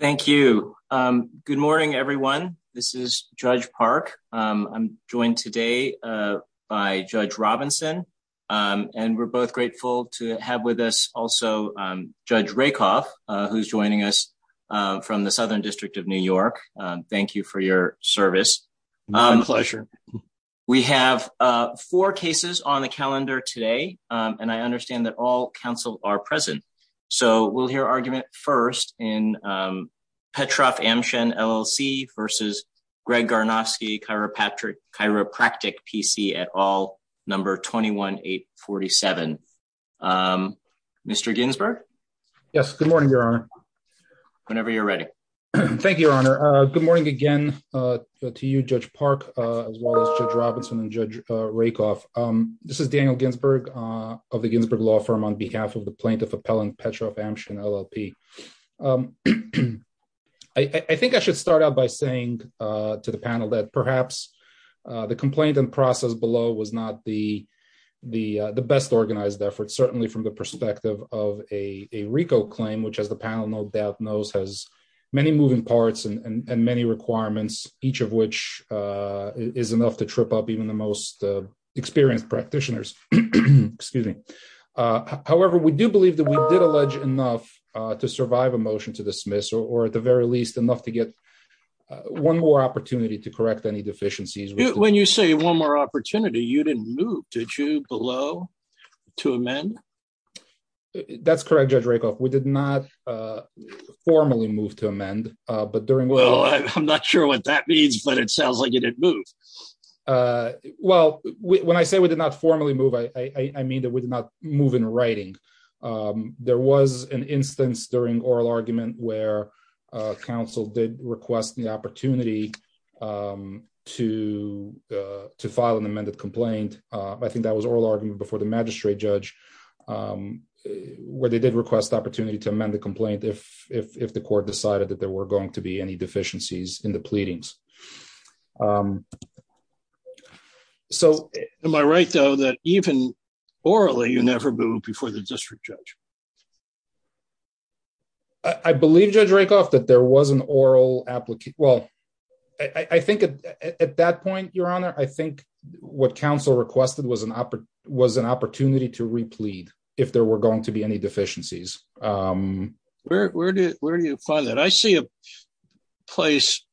Thank you. Good morning everyone. This is Judge Park. I'm joined today by Judge Robinson and we're both grateful to have with us also Judge Rakoff who's joining us from the Southern District of New York. Thank you for your service. Pleasure. We have four cases on the calendar today and I understand that all counsel are present so we'll hear argument first in Petroff Amshen LLC versus Graig Garnovsky Chiropractic PC at all number 21847. Mr. Ginsburg? Yes, good morning, Your Honor. Whenever you're ready. Thank you, Your Honor. Good morning again to you, Judge Park, as well as Judge Robinson and Judge Robinson on behalf of the plaintiff appellant Petroff Amshen LLP. I think I should start out by saying to the panel that perhaps the complaint and process below was not the best organized effort, certainly from the perspective of a RICO claim, which as the panel no doubt knows has many moving parts and many requirements, each of which is enough to trip up even the most experienced practitioners. Excuse me. However, we do believe that we did allege enough to survive a motion to dismiss or at the very least enough to get one more opportunity to correct any deficiencies. When you say one more opportunity, you didn't move. Did you below to amend? That's correct, Judge Rakoff. We did not formally move to amend, but during well, I'm not sure what that means, but it formally move. I mean, that would not move in writing. Um, there was an instance during oral argument where council did request the opportunity, um, to, uh, to file an amended complaint. I think that was oral argument before the magistrate judge, um, where they did request opportunity to amend the complaint. If if the court decided that there were going to be any deficiencies in the pleadings. Um, so am I right, though, that even orally you never move before the district judge? I believe Judge Rakoff that there was an oral applicant. Well, I think at that point, Your Honor, I think what council requested was an opera was an opportunity to replete if there were going to be any deficiencies. Um, where do where do you find that? I see a place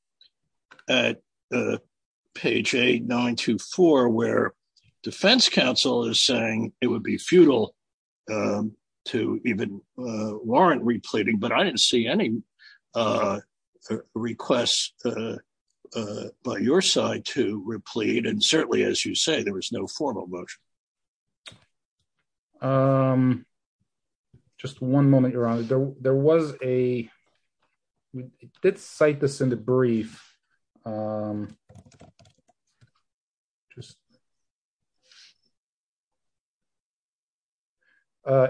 at page 8924 where Defense Council is saying it would be futile, um, to even warrant repleting. But I didn't see any, uh, requests, uh, by your side to replete. And certainly, as you say, there was no formal motion. Okay. Um, just one moment, Your Honor. There was a let's cite this in the brief. Um, just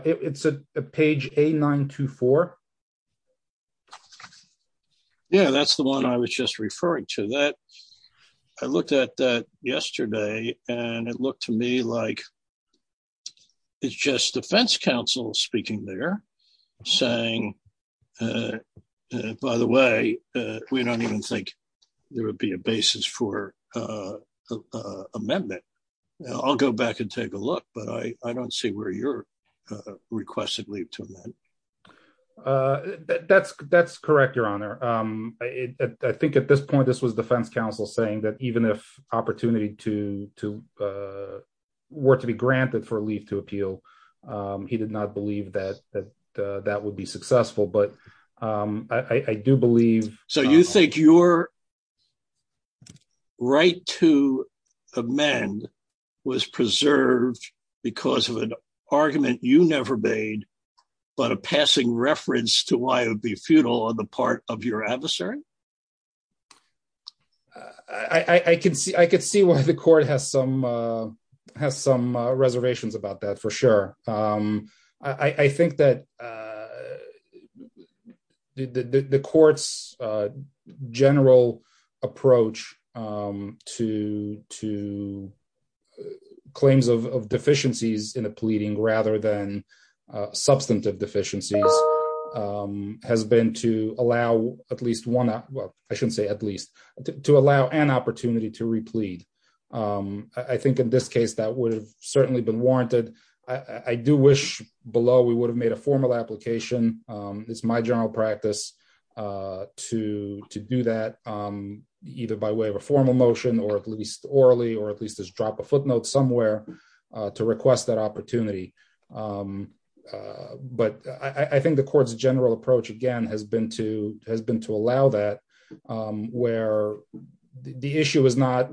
it's a page 8924. Yeah, that's the one I was just referring to that. I looked at that and it looked to me like it's just Defense Council speaking there saying, uh, by the way, we don't even think there would be a basis for, uh, amendment. I'll go back and take a look, but I don't see where you're requested leave to amend. Uh, that's that's correct, Your Honor. Um, I think at this point, this was uh, were to be granted for leave to appeal. Um, he did not believe that that, uh, that would be successful. But, um, I do believe so. You think your right to amend was preserved because of an argument you never made, but a passing reference to why it would be futile on the part of your adversary. Uh, I could see I could see why the court has some, uh, has some reservations about that for sure. Um, I think that, uh, the court's general approach, um, to to claims of deficiencies in the pleading rather than, uh, substantive deficiencies, um, has been to allow at least one. Well, I shouldn't say at least to allow an opportunity to replete. Um, I think in this case that would have certainly been warranted. I do wish below we would have made a formal application. Um, it's my general practice, uh, to to do that, um, either by way of a formal motion or at least orally or at to request that opportunity. Um, uh, but I think the court's general approach again has been to has been to allow that, um, where the issue is not,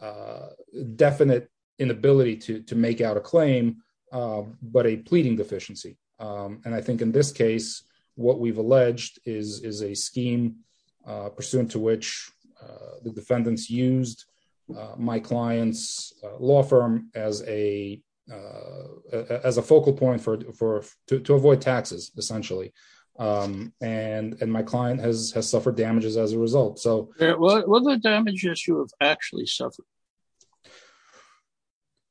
uh, definite inability to make out a claim, uh, but a pleading deficiency. Um, and I think in this case what we've alleged is is a scheme, uh, pursuant to which, uh, the defendants used, uh, my client's law firm as a, uh, as a focal point for, for, to, to avoid taxes essentially. Um, and, and my client has, has suffered damages as a result. So what are the damages you have actually suffered?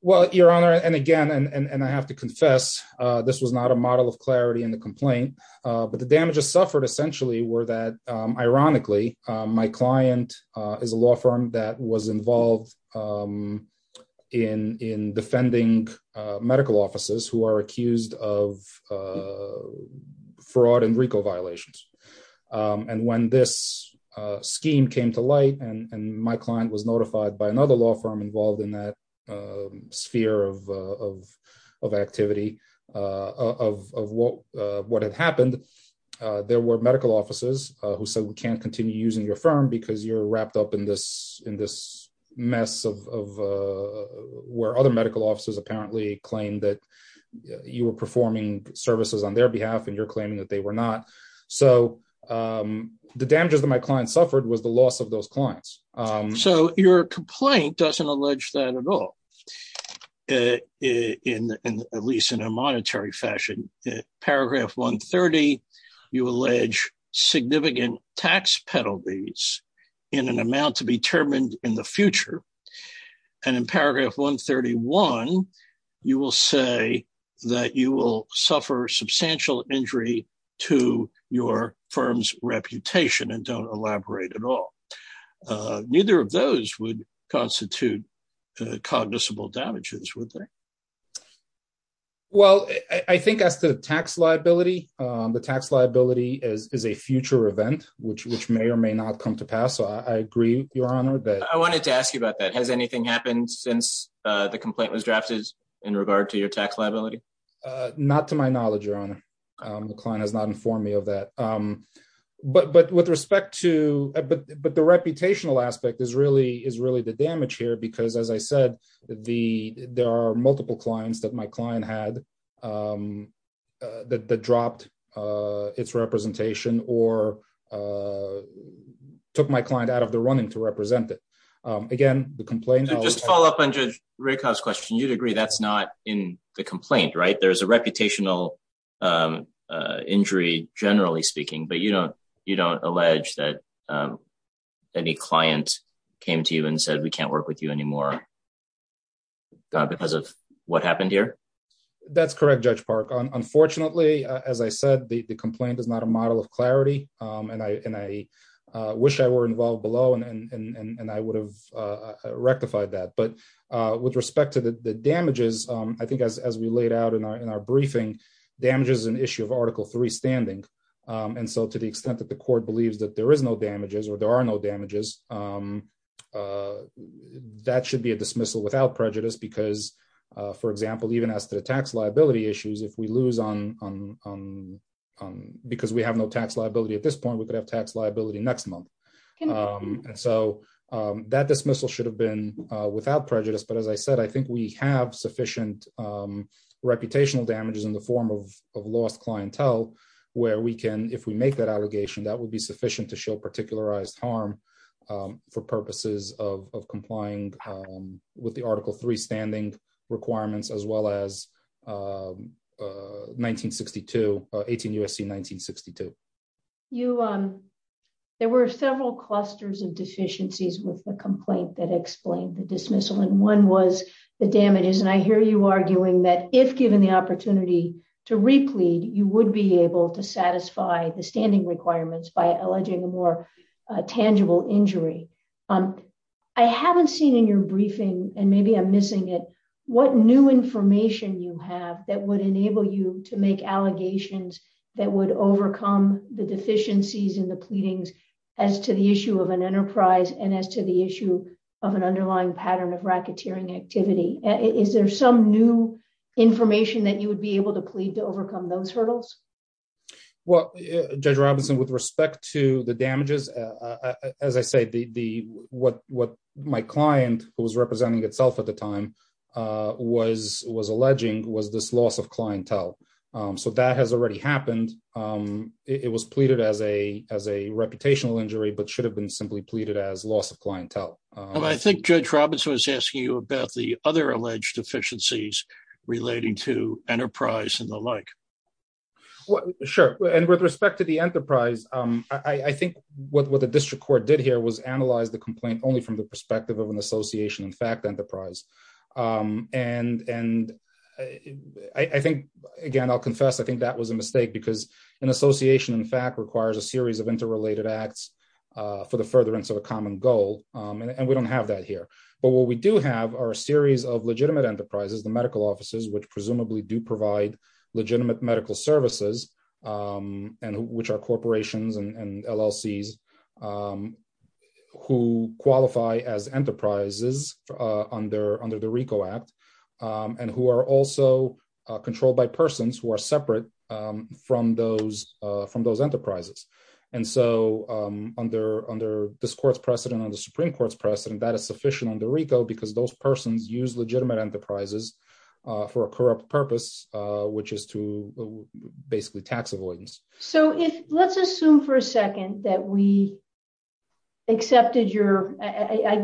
Well, your honor, and again, and I have to confess, uh, this was not a model of clarity in the complaint, uh, but the damages suffered essentially were that, um, ironically, um, my client, uh, is a law firm that was involved, um, in, in defending, uh, medical officers who are accused of, uh, fraud and Rico violations. Um, and when this, uh, scheme came to light and, and my client was notified by another law firm involved in that, um, sphere of, uh, of, of activity, uh, of, of what, uh, what had happened, uh, there were medical offices, uh, who said, we can't continue using your firm because you're wrapped up in this, in this mess of, of, uh, where other medical officers apparently claimed that you were performing services on their behalf and you're claiming that they were not. So, um, the damages that my client suffered was the loss of those clients. So your complaint doesn't allege that at all, uh, in, in at least in a monetary fashion, paragraph one 30, you allege significant tax penalties in an amount to be determined in the future. And in paragraph one 31, you will say that you will suffer substantial injury to your firm's reputation and don't elaborate at all. Uh, neither of those would constitute, uh, cognizable damages with them. Well, I think as to the tax liability, um, the tax liability is, is a future event, which, which may or may not come to pass. So I agree, your honor, that I wanted to ask you about that. Has anything happened since, uh, the complaint was drafted in regard to your tax liability? Uh, not to my knowledge, your honor. Um, the client has not informed me of that. Um, but, but with respect to, but, but the reputational aspect is really, is really the damage here, because as I said, the, there are multiple clients that my client had, um, uh, that, that dropped, uh, its representation or, uh, took my client out of the running to represent it. Um, again, the complaint, just follow up on judge rickhouse question. You'd agree that's not in the complaint, right? There's a reputational, um, uh, injury generally speaking, but you don't, you don't allege that, um, any client came to you and said, we can't work with you anymore because of what happened here. That's correct. Judge park. Unfortunately, as I said, the complaint is not a model of clarity. Um, and I, and I, uh, wish I were involved below and, and, and, and I would have, uh, rectified that. But, uh, with respect to the damages, um, I think as, as we laid out in our, in our briefing damages, an issue of article three standing. Um, and so to the extent that the court believes that there is no damages or there are no damages, um, uh, that should be a dismissal without prejudice because, uh, for example, even as to the tax liability issues, if we lose on, um, um, um, because we have no tax liability at this point, we could have tax liability next month. Um, and dismissal should have been, uh, without prejudice. But as I said, I think we have sufficient, um, reputational damages in the form of, of lost clientele, where we can, if we make that allegation, that would be sufficient to show particularized harm, um, for purposes of, of complying, um, with the article three standing requirements, as well as, uh, uh, 1962, uh, 18 USC, 1962. You, um, there were several clusters of deficiencies with the complaint that explained the dismissal and one was the damages. And I hear you arguing that if given the opportunity to replete, you would be able to satisfy the standing requirements by alleging a more tangible injury. Um, I haven't seen in your briefing and maybe I'm missing it. What new information you have that would enable you to make allegations that would overcome the deficiencies in the pleadings as to the issue of an enterprise and as to the issue of an underlying pattern of racketeering activity. Is there some new information that you would be able to plead to overcome those hurdles? Well, Judge Robinson, with respect to the damages, as I said, the what, what my client who representing itself at the time, uh, was, was alleging was this loss of clientele. Um, so that has already happened. Um, it was pleaded as a, as a reputational injury, but should have been simply pleaded as loss of clientele. Um, I think judge Robinson was asking you about the other alleged deficiencies relating to enterprise and the like. What? Sure. And with respect to the enterprise, um, I think what the district court did here was analyze the complaint only from the perspective of an association, in fact, enterprise. Um, and, and I think again, I'll confess, I think that was a mistake because an association in fact requires a series of interrelated acts, uh, for the furtherance of a common goal. Um, and we don't have that here, but what we do have are a series of legitimate enterprises, the medical offices, which presumably do provide legitimate medical services, um, and which are corporations and LLCs, um, who qualify as enterprises, uh, under, under the RICO act, um, and who are also, uh, controlled by persons who are separate, um, from those, uh, from those enterprises. And so, um, under, under this court's precedent on the Supreme Court's precedent, that is sufficient on the RICO because those persons use legitimate enterprises, uh, for a corrupt purpose, uh, which is to basically tax avoidance. So if, let's assume for a second that we accepted your, I, I, I,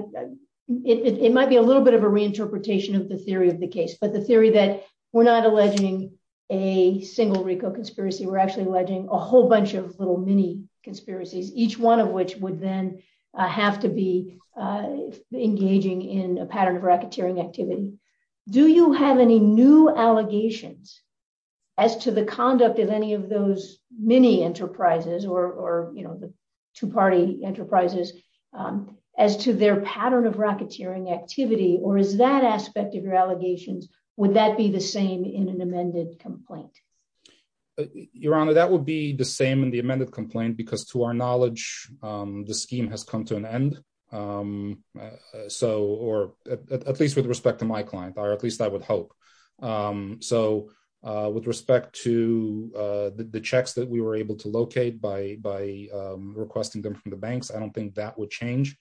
it, it, it might be a little bit of a reinterpretation of the theory of the case, but the theory that we're not alleging a single RICO conspiracy, we're actually alleging a whole bunch of little mini conspiracies, each one of which would then have to be, uh, engaging in a pattern of racketeering activity. Do you have any new allegations as to the conduct of any of those mini enterprises or, or, you know, the two-party enterprises, um, as to their pattern of racketeering activity, or is that aspect of your allegations, would that be the same in an amended complaint? Your Honor, that would be the same in the amended complaint because to our knowledge, um, the scheme has come to an end, um, uh, so, or at least with respect to my client, or at least I would hope. Um, so, uh, with respect to, uh, the, the checks that we were able to locate by, by, um, requesting them from the banks, I don't think that would change.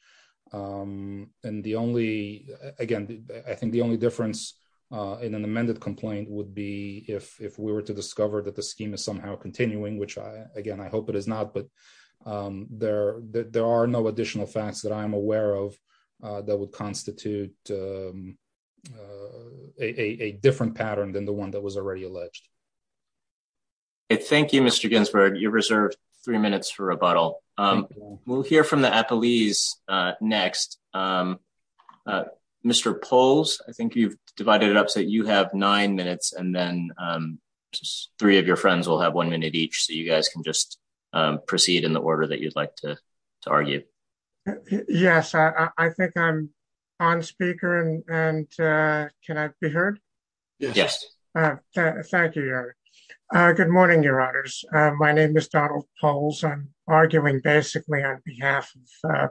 Um, and the only, again, I think the only difference, uh, in an amended complaint would be if, if we were to discover that the scheme is somehow continuing, which I, again, I hope it is not, but, um, there, there are no additional facts that I'm aware of, uh, that would constitute, um, uh, a, a, a different pattern than the one that was already alleged. Okay. Thank you, Mr. Ginsburg. You're reserved three minutes for rebuttal. Um, we'll hear from the appellees, uh, next, um, uh, Mr. Poles, I think you've divided it up so that you have nine minutes and then, um, three of your friends will have one minute each. So you guys can just, um, proceed in the order that you'd like to, to argue. Yes. I think I'm on speaker and, and, uh, can I be heard? Yes. Thank you. Uh, good morning, your honors. My name is Donald Poles. I'm arguing basically on behalf of, uh,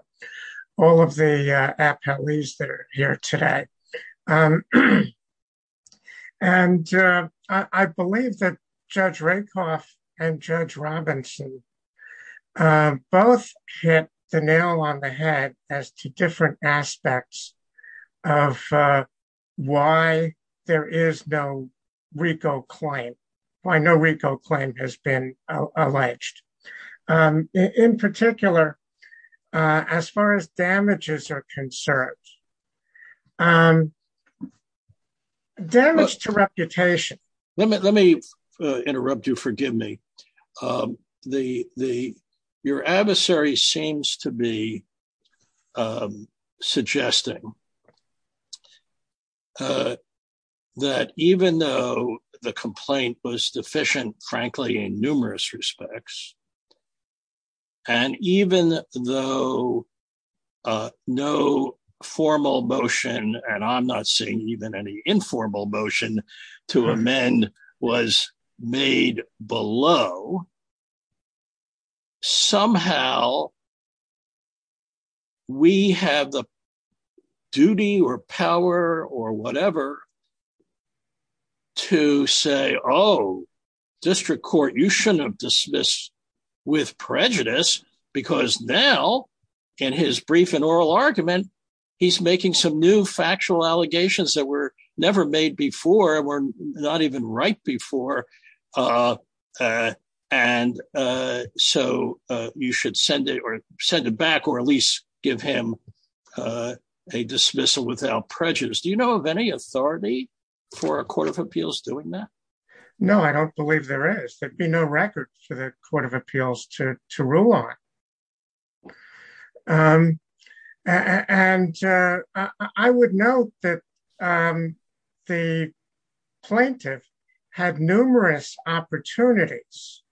all of the, uh, appellees that are here today. Um, and, uh, I, I believe that judge Rakoff and judge Robinson, um, both hit the nail on the head as to different aspects of, uh, why there is no RICO claim, why no RICO claim has been alleged, um, in particular, uh, as far as damages are concerned, um, damage to reputation. Let me, let me, uh, interrupt you. Forgive me. Um, the, the, your adversary seems to be, um, suggesting, uh, that even though the complaint was deficient, frankly, in numerous respects, and even though, uh, no formal motion, and I'm not saying even any informal motion to amend was made below, somehow we have the duty or power or whatever to say, oh, district court, you shouldn't have dismissed with prejudice because now in his brief and oral argument, he's making some new factual allegations that were never made before were not even right before. Uh, uh, and, uh, so, uh, you should send it or send it back or at least give him, uh, a dismissal without prejudice. Do you know of any authority for a court of appeals doing that? No, I don't believe there is. There'd be no record for the court of appeals to, to rule on. Um, and, uh, I would know that, um, the plaintiff had numerous opportunities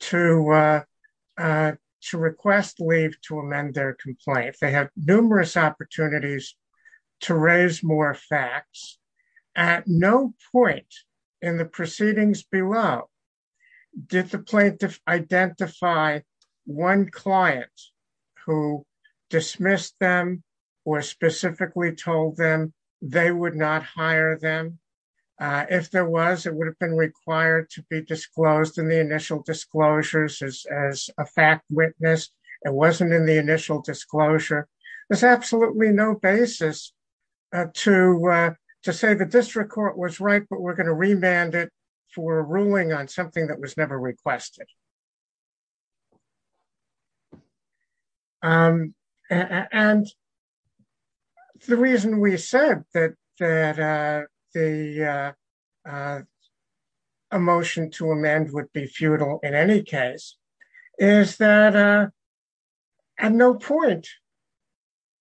to, uh, uh, to request leave to amend their complaint. They have numerous opportunities to raise more facts at no point in the proceedings below did the plaintiff identify one client who dismissed them or specifically told them they would not hire them. Uh, if there was, it would have been required to be disclosed in the initial disclosures as, as a fact witness. It wasn't in the initial disclosure. There's absolutely no basis to, uh, to say the district court was right, but we're ruling on something that was never requested. Um, and the reason we said that, that, uh, the, uh, uh, a motion to amend would be futile in any case is that, uh, at no point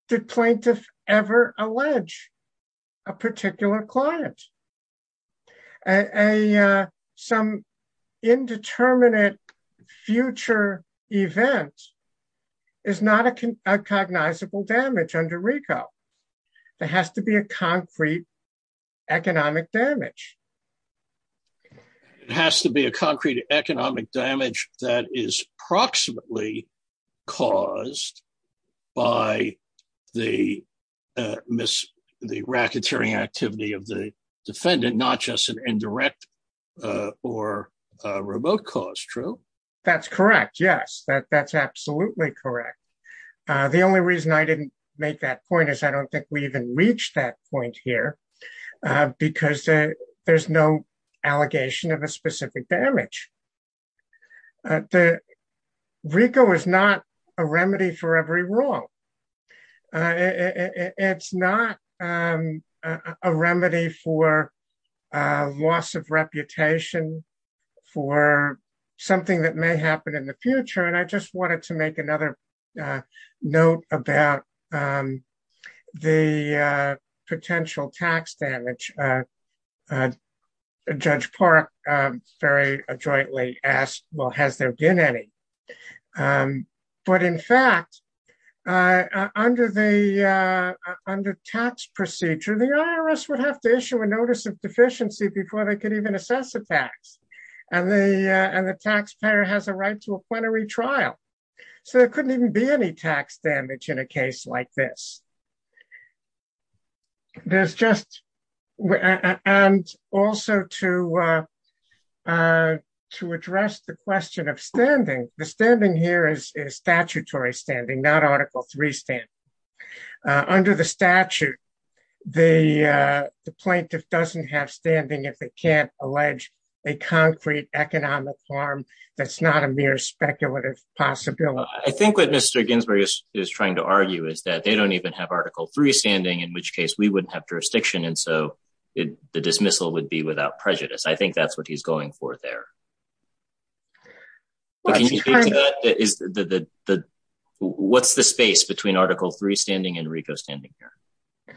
did plaintiff ever allege a particular client, a, uh, some indeterminate future event is not a cognizable damage under RICO. It has to be a concrete economic damage. It has to be a concrete economic damage that is proximately caused by the, uh, the racketeering activity of the defendant, not just an indirect, uh, or a remote cause. True. That's correct. Yes. That that's absolutely correct. Uh, the only reason I didn't make that point is I don't think we even reached that point here, uh, because there's no allegation of a specific damage. Uh, the RICO is not a remedy for every wrong. Uh, it's not, um, uh, a remedy for, uh, loss of reputation for something that may happen in the future. And I just wanted to make another, uh, note about, um, the, uh, potential tax damage, uh, uh, Judge Park, um, very jointly asked, well, has there been any? Um, but in fact, uh, under the, uh, under tax procedure, the IRS would have to issue a notice of deficiency before they could even assess the tax and the, uh, and the taxpayer has a right to a plenary trial. So there couldn't even be any tax damage in a case like this. There's just, and also to, uh, uh, to address the question of standing, the standing here is, is statutory standing, not article three stand, uh, under the statute, the, uh, the plaintiff doesn't have standing if they can't allege a concrete economic harm, that's not a mere speculative possibility. I think what Mr. Ginsburg is trying to argue is that they don't even have article three standing, in which case we wouldn't have jurisdiction. And so it, the dismissal would be without prejudice. I think that's what he's going for there. Is the, the, the, what's the space between article three standing and RICO standing here?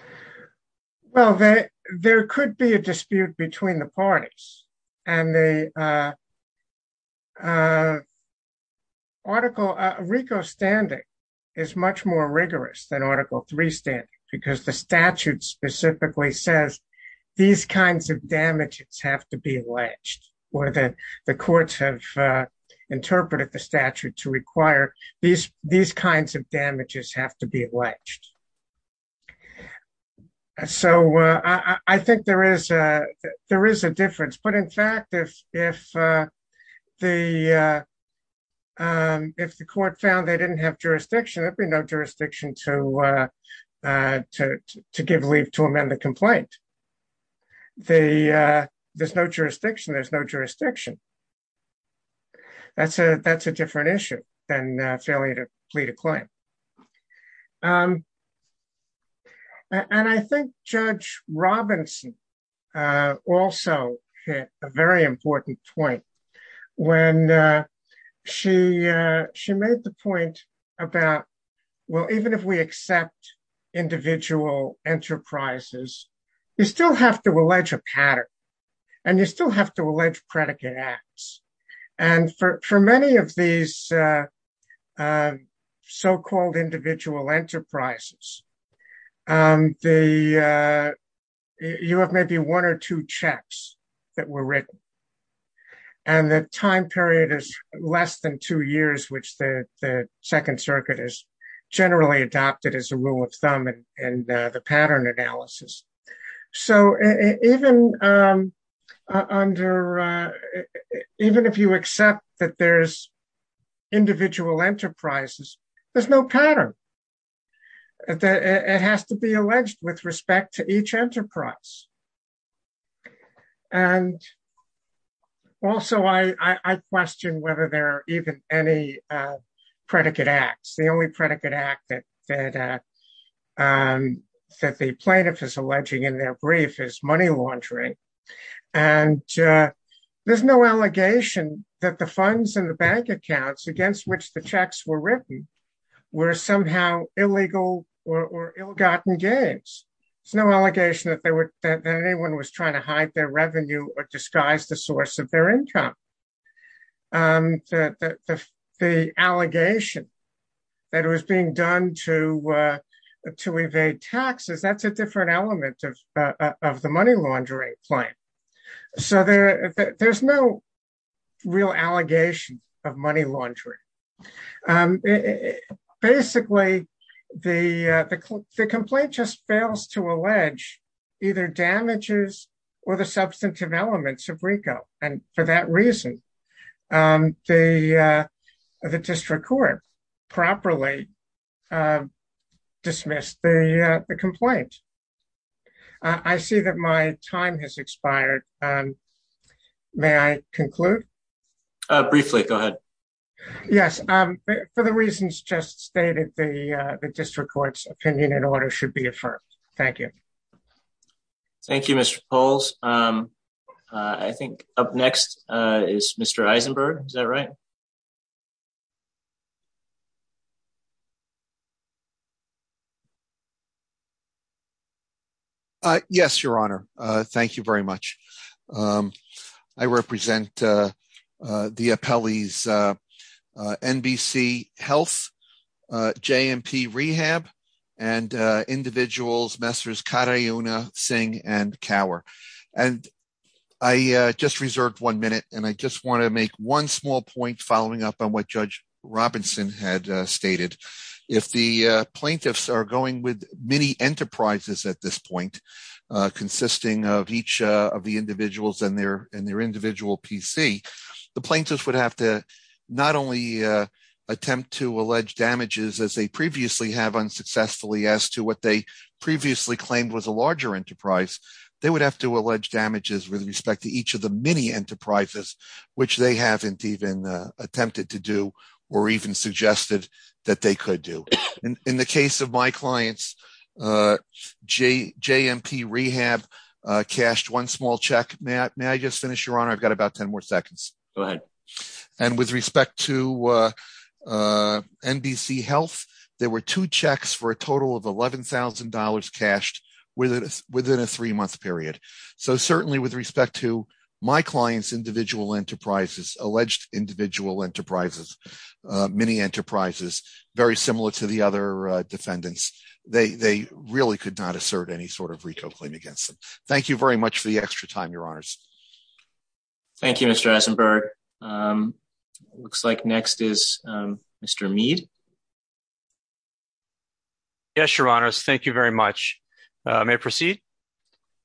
Well, there, there could be a dispute between the parties and the, uh, uh, article, uh, RICO standing is much more rigorous than article three standing because the statute specifically says these kinds of damages have to be alleged or that the courts have, uh, interpreted the statute to require these, these kinds of damages have to be alleged. So, uh, I, I think there is a, there is a difference, but in fact, if, if, uh, the, uh, um, if the court found they didn't have jurisdiction, there'd be no jurisdiction to, uh, uh, to, to, to give leave to amend the complaint. The, uh, there's no jurisdiction. There's no jurisdiction. That's a, that's a different issue than a failure to plead a claim. Um, and I think Judge Robinson, uh, also hit a very important point when, uh, she, uh, she made the point about, well, even if we accept individual enterprises, you still have to allege a pattern and you still have to allege predicate acts. And for, for many of these, uh, uh, so-called individual enterprises, um, the, uh, you have maybe one or two checks that were written and the time period is less than two years, which the, the second circuit is generally adopted as a rule of thumb and, and, uh, the pattern analysis. So even, um, uh, under, uh, even if you accept that there's individual enterprises, there's no pattern that it has to be alleged with respect to each enterprise. And also I, I, I question whether there are even any, uh, predicate acts. The only predicate act that, that, uh, um, that the plaintiff is alleging in their brief is money laundering. And, uh, there's no allegation that the funds in the bank accounts against which the checks were written were somehow illegal or ill-gotten gains. There's no allegation that they were, that anyone was trying to hide their revenue or disguise the source of their income. Um, the, the, the, the allegation that it was being done to, uh, to evade taxes, that's a different element of, uh, of the money laundering plan. So there, there's no real allegation of money laundering. Um, basically the, uh, the, the complaint just fails to allege either damages or the substantive elements of RICO. And for that reason, um, the, uh, the district court properly, uh, dismissed the, uh, the complaint. Uh, I see that my time has expired. Um, may I conclude? Uh, briefly, go ahead. Yes. Um, for the reasons just stated, the, uh, the district court's opinion and order should be affirmed. Thank you. Thank you, Mr. Poles. Um, uh, I think up next, uh, is Mr. Eisenberg. Is that right? Uh, yes, your honor. Uh, thank you very much. Um, I represent, uh, uh, the appellees, uh, uh, NBC health, uh, JMP rehab and, uh, individuals, Messrs. Singh and cower. And I, uh, just reserved one minute and I just want to make one small point following up on what judge Robinson had stated. If the, uh, plaintiffs are going with many enterprises at this point, uh, consisting of each, uh, of the individuals and their, and their individual PC, the plaintiffs would have to not only, uh, attempt to allege damages as they previously have unsuccessfully as to what they previously claimed was a larger enterprise. They would have to allege damages with respect to each of the mini enterprises, which they haven't even, uh, attempted to do, or even suggested that they could do. And in the case of my clients, uh, J JMP rehab, uh, cashed one small check. Matt, may I just finish your honor? I've got about 10 more seconds. Go ahead. And with respect to, uh, uh, NBC health, there were two checks for a total of $11,000 cashed with it within a three month period. So certainly with respect to my clients, individual enterprises, alleged individual enterprises, uh, mini enterprises, very similar to the other, uh, defendants, they, they really could not assert any sort of RICO claim against them. Thank you very much for the extra time. Your honors. Thank you, Mr. Asenberg. Um, it looks like next is, um, Mr. Mead. Yes, your honors. Thank you very much. Uh, may I proceed?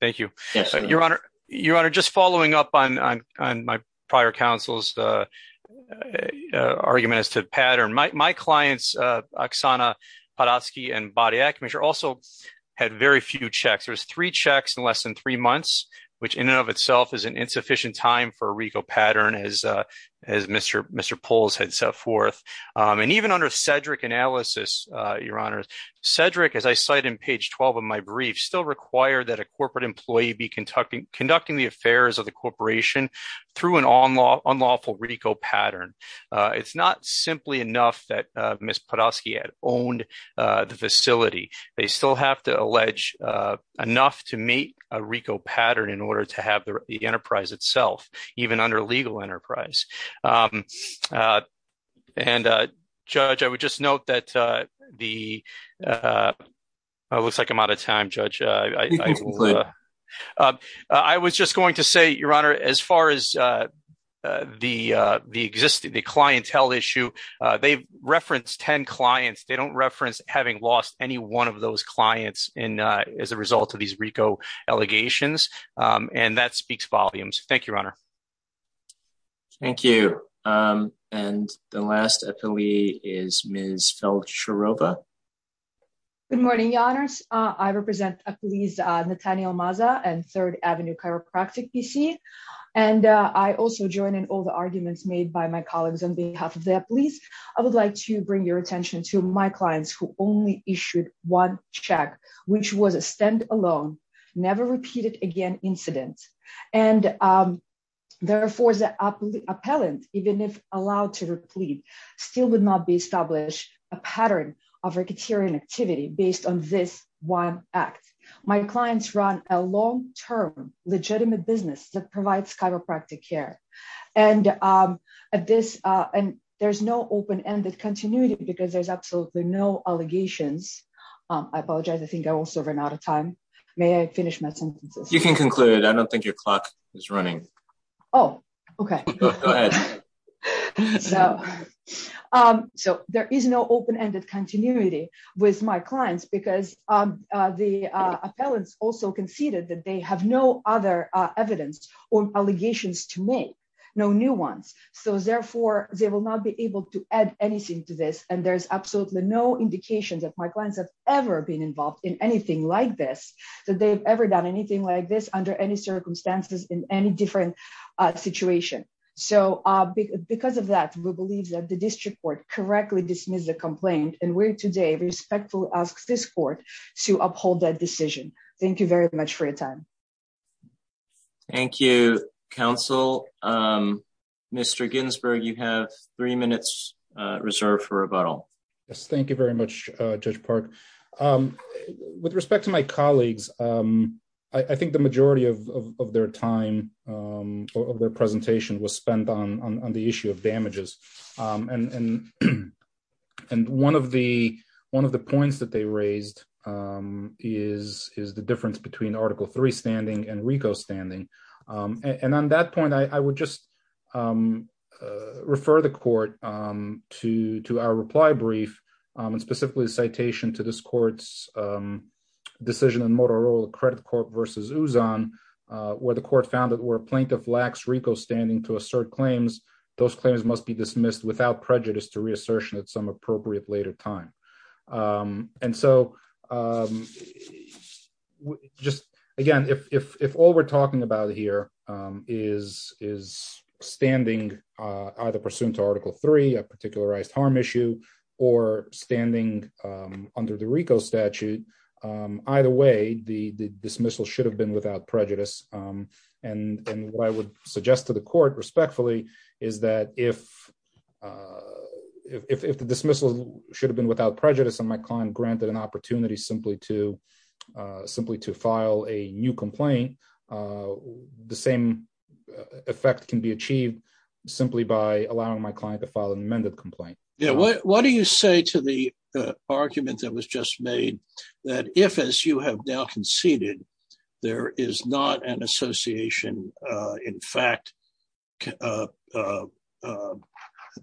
Thank you, your honor, your honor. Just following up on, on, on my prior counsel's, uh, uh, argument as to pattern, my, my clients, uh, Oksana Podolsky and body acupuncture also had very few checks. There's three checks in less than three months, which in and of itself is an insufficient time for a RICO pattern as, uh, as Mr. Mr. Poles had set forth. Um, and even under Cedric analysis, uh, your honors Cedric, as I cite in page 12 of my brief still require that a corporate employee be conducting, conducting the affairs of the corporation through an onlaw unlawful RICO pattern. Uh, it's not simply enough that, uh, Ms. Podolsky had owned, uh, the facility. They still have to allege, uh, enough to meet a RICO pattern in order to have the enterprise itself, even under legal enterprise. Um, uh, and, uh, judge, I would just note that, uh, the, uh, uh, it looks like I'm out of time judge, uh, uh, uh, I was just going to say, your honor, as far as, uh, uh, the, uh, the existing, the clientele issue, uh, they've referenced 10 clients. They don't reference having lost any one of those clients in, uh, as a result of these RICO allegations. Um, and that speaks volumes. Thank you, your honor. Thank you. Um, and the last epile is Ms. Feld Shiroba. Good morning. Your honors. Uh, I represent a police, uh, Nathaniel Mazza and third Avenue chiropractic PC. And, uh, I also join in all the arguments made by my colleagues on behalf of their police. I would like to bring your attention to my clients who only issued one check, which was a stand alone, never repeated again incident. And, um, therefore the appellant, even if allowed to replete still would not be established a pattern of ricketyrian activity based on this one act. My clients run a long-term legitimate business that provides chiropractic care and, um, at no open-ended continuity because there's absolutely no allegations. Um, I apologize. I think I also ran out of time. May I finish my sentences? You can conclude. I don't think your clock is running. Oh, okay. So, um, so there is no open-ended continuity with my clients because, um, uh, the, uh, appellants also conceded that they have no other, uh, evidence or allegations to make no new ones. So therefore they will not be able to add anything to this. And there's absolutely no indication that my clients have ever been involved in anything like this, that they've ever done anything like this under any circumstances in any different situation. So, uh, because of that, we believe that the district court correctly dismissed the complaint and we're today respectfully ask this court to uphold that decision. Thank you very much for your time. Thank you, counsel. Um, Mr. Ginsburg, you have three minutes, uh, reserved for rebuttal. Yes. Thank you very much, uh, Judge Park. Um, with respect to my colleagues, um, I think the majority of, of, of their time, um, of their presentation was spent on, on, on the issue of damages. Um, and, and, and one of the, one of the points that they raised, um, is, is the difference between article three standing and RICO standing. Um, and on that point, I, I would just, um, uh, refer the court, um, to, to our reply brief, um, and specifically the citation to this court's, um, decision in Motorola credit court versus Uzon, uh, where the court found that where plaintiff lacks RICO standing to assert claims, those claims must be dismissed without prejudice to reassertion at some appropriate later time. Um, and so, um, just again, if, if, if all we're talking about here, um, is, is standing, uh, either pursuant to article three, a particularized harm issue or standing, um, under the RICO statute, um, either way, the, the dismissal should have been without prejudice. Um, and, and what I would suggest to the court respectfully is that if, uh, if, if the dismissal should have been without prejudice and my client granted an opportunity simply to, uh, simply to file a new complaint, uh, the same effect can be achieved simply by allowing my client to file an amended complaint. Yeah. What do you say to the, uh, argument that was just made that if, as you have now conceded, there is not an association, uh, in fact, uh, uh, uh, uh,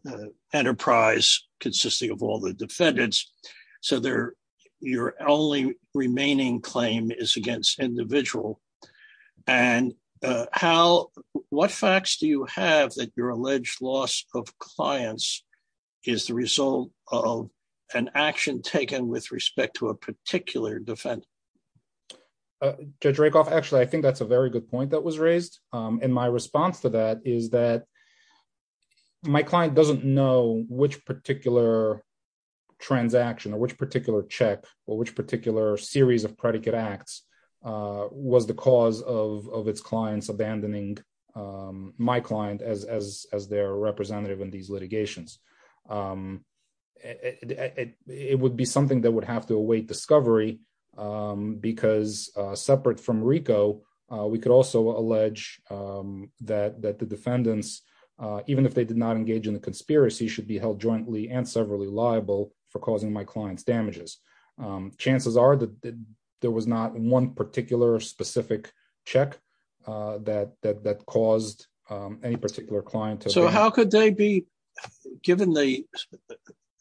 uh, enterprise consisting of all the defendants. So there, your only remaining claim is against individual and, uh, how, what facts do you have that your alleged loss of clients is the result of an action taken with respect to a particular defendant? Judge Rakoff, actually, I think that's a very good point that was raised. Um, and my response to that is that my client doesn't know which particular transaction or which particular check or which particular series of predicate acts, uh, was the cause of, of its clients abandoning, um, my client as, as, as their representative in these litigations. Um, it, it, it, it would be something that would have to await discovery, um, because, uh, separate from Rico, uh, we could also allege, um, that, that the defendants, uh, even if they did not engage in the conspiracy should be held jointly and severally liable for causing my client's damages. Um, chances are that there was not one particular specific check, uh, that, that, that caused, um, any particular client. So how could they be given the,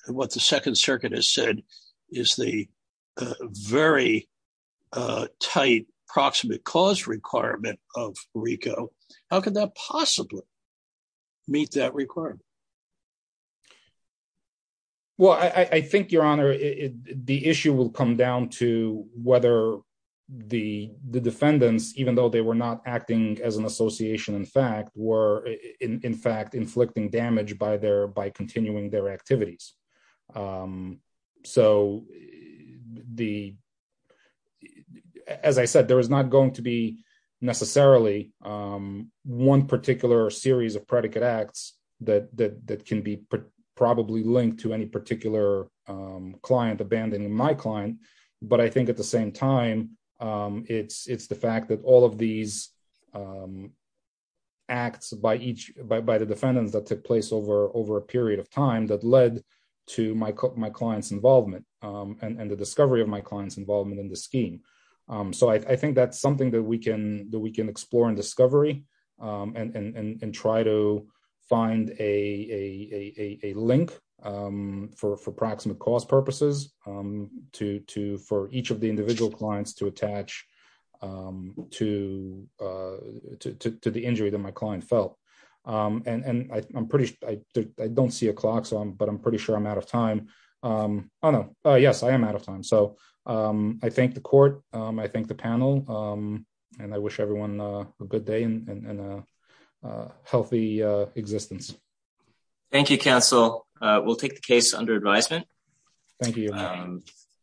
what the second circuit has said is the, uh, very, uh, tight proximate cause requirement of Rico? How could that possibly meet that requirement? Well, I, I think your honor, the issue will come down to whether the, the defendants, even though they were not acting as an association, in fact, were in, in fact, inflicting damage by their, by continuing their activities. Um, so the, as I said, there was not going to be necessarily, um, one particular series of predicate acts that, that, that can be probably linked to any particular, um, client abandoning my client. But I think at the same time, um, it's, it's the fact that all of these, um, acts by each by, by the defendants that took place over, over a period of time that led to my, my client's involvement, um, and, and the discovery of my client's involvement in the scheme. So I, I think that's something that we can, that we can explore and discovery, um, and, and try to find a, a, a, a, a link, um, for, for praximate cause purposes, um, to, to, for each of the individual clients to attach, um, to, uh, to, to, to the injury that my client felt. Um, and, and I, I'm pretty, I don't see a clock, so I'm, but I'm pretty sure I'm out of time. Um, oh no, oh yes, I am out of time. So, um, I thank the court, um, I thank the panel, um, and I wish everyone a good day and, and, and, uh, uh, healthy, uh, existence. Thank you, counsel. Uh, we'll take the case under advisement. Thank you.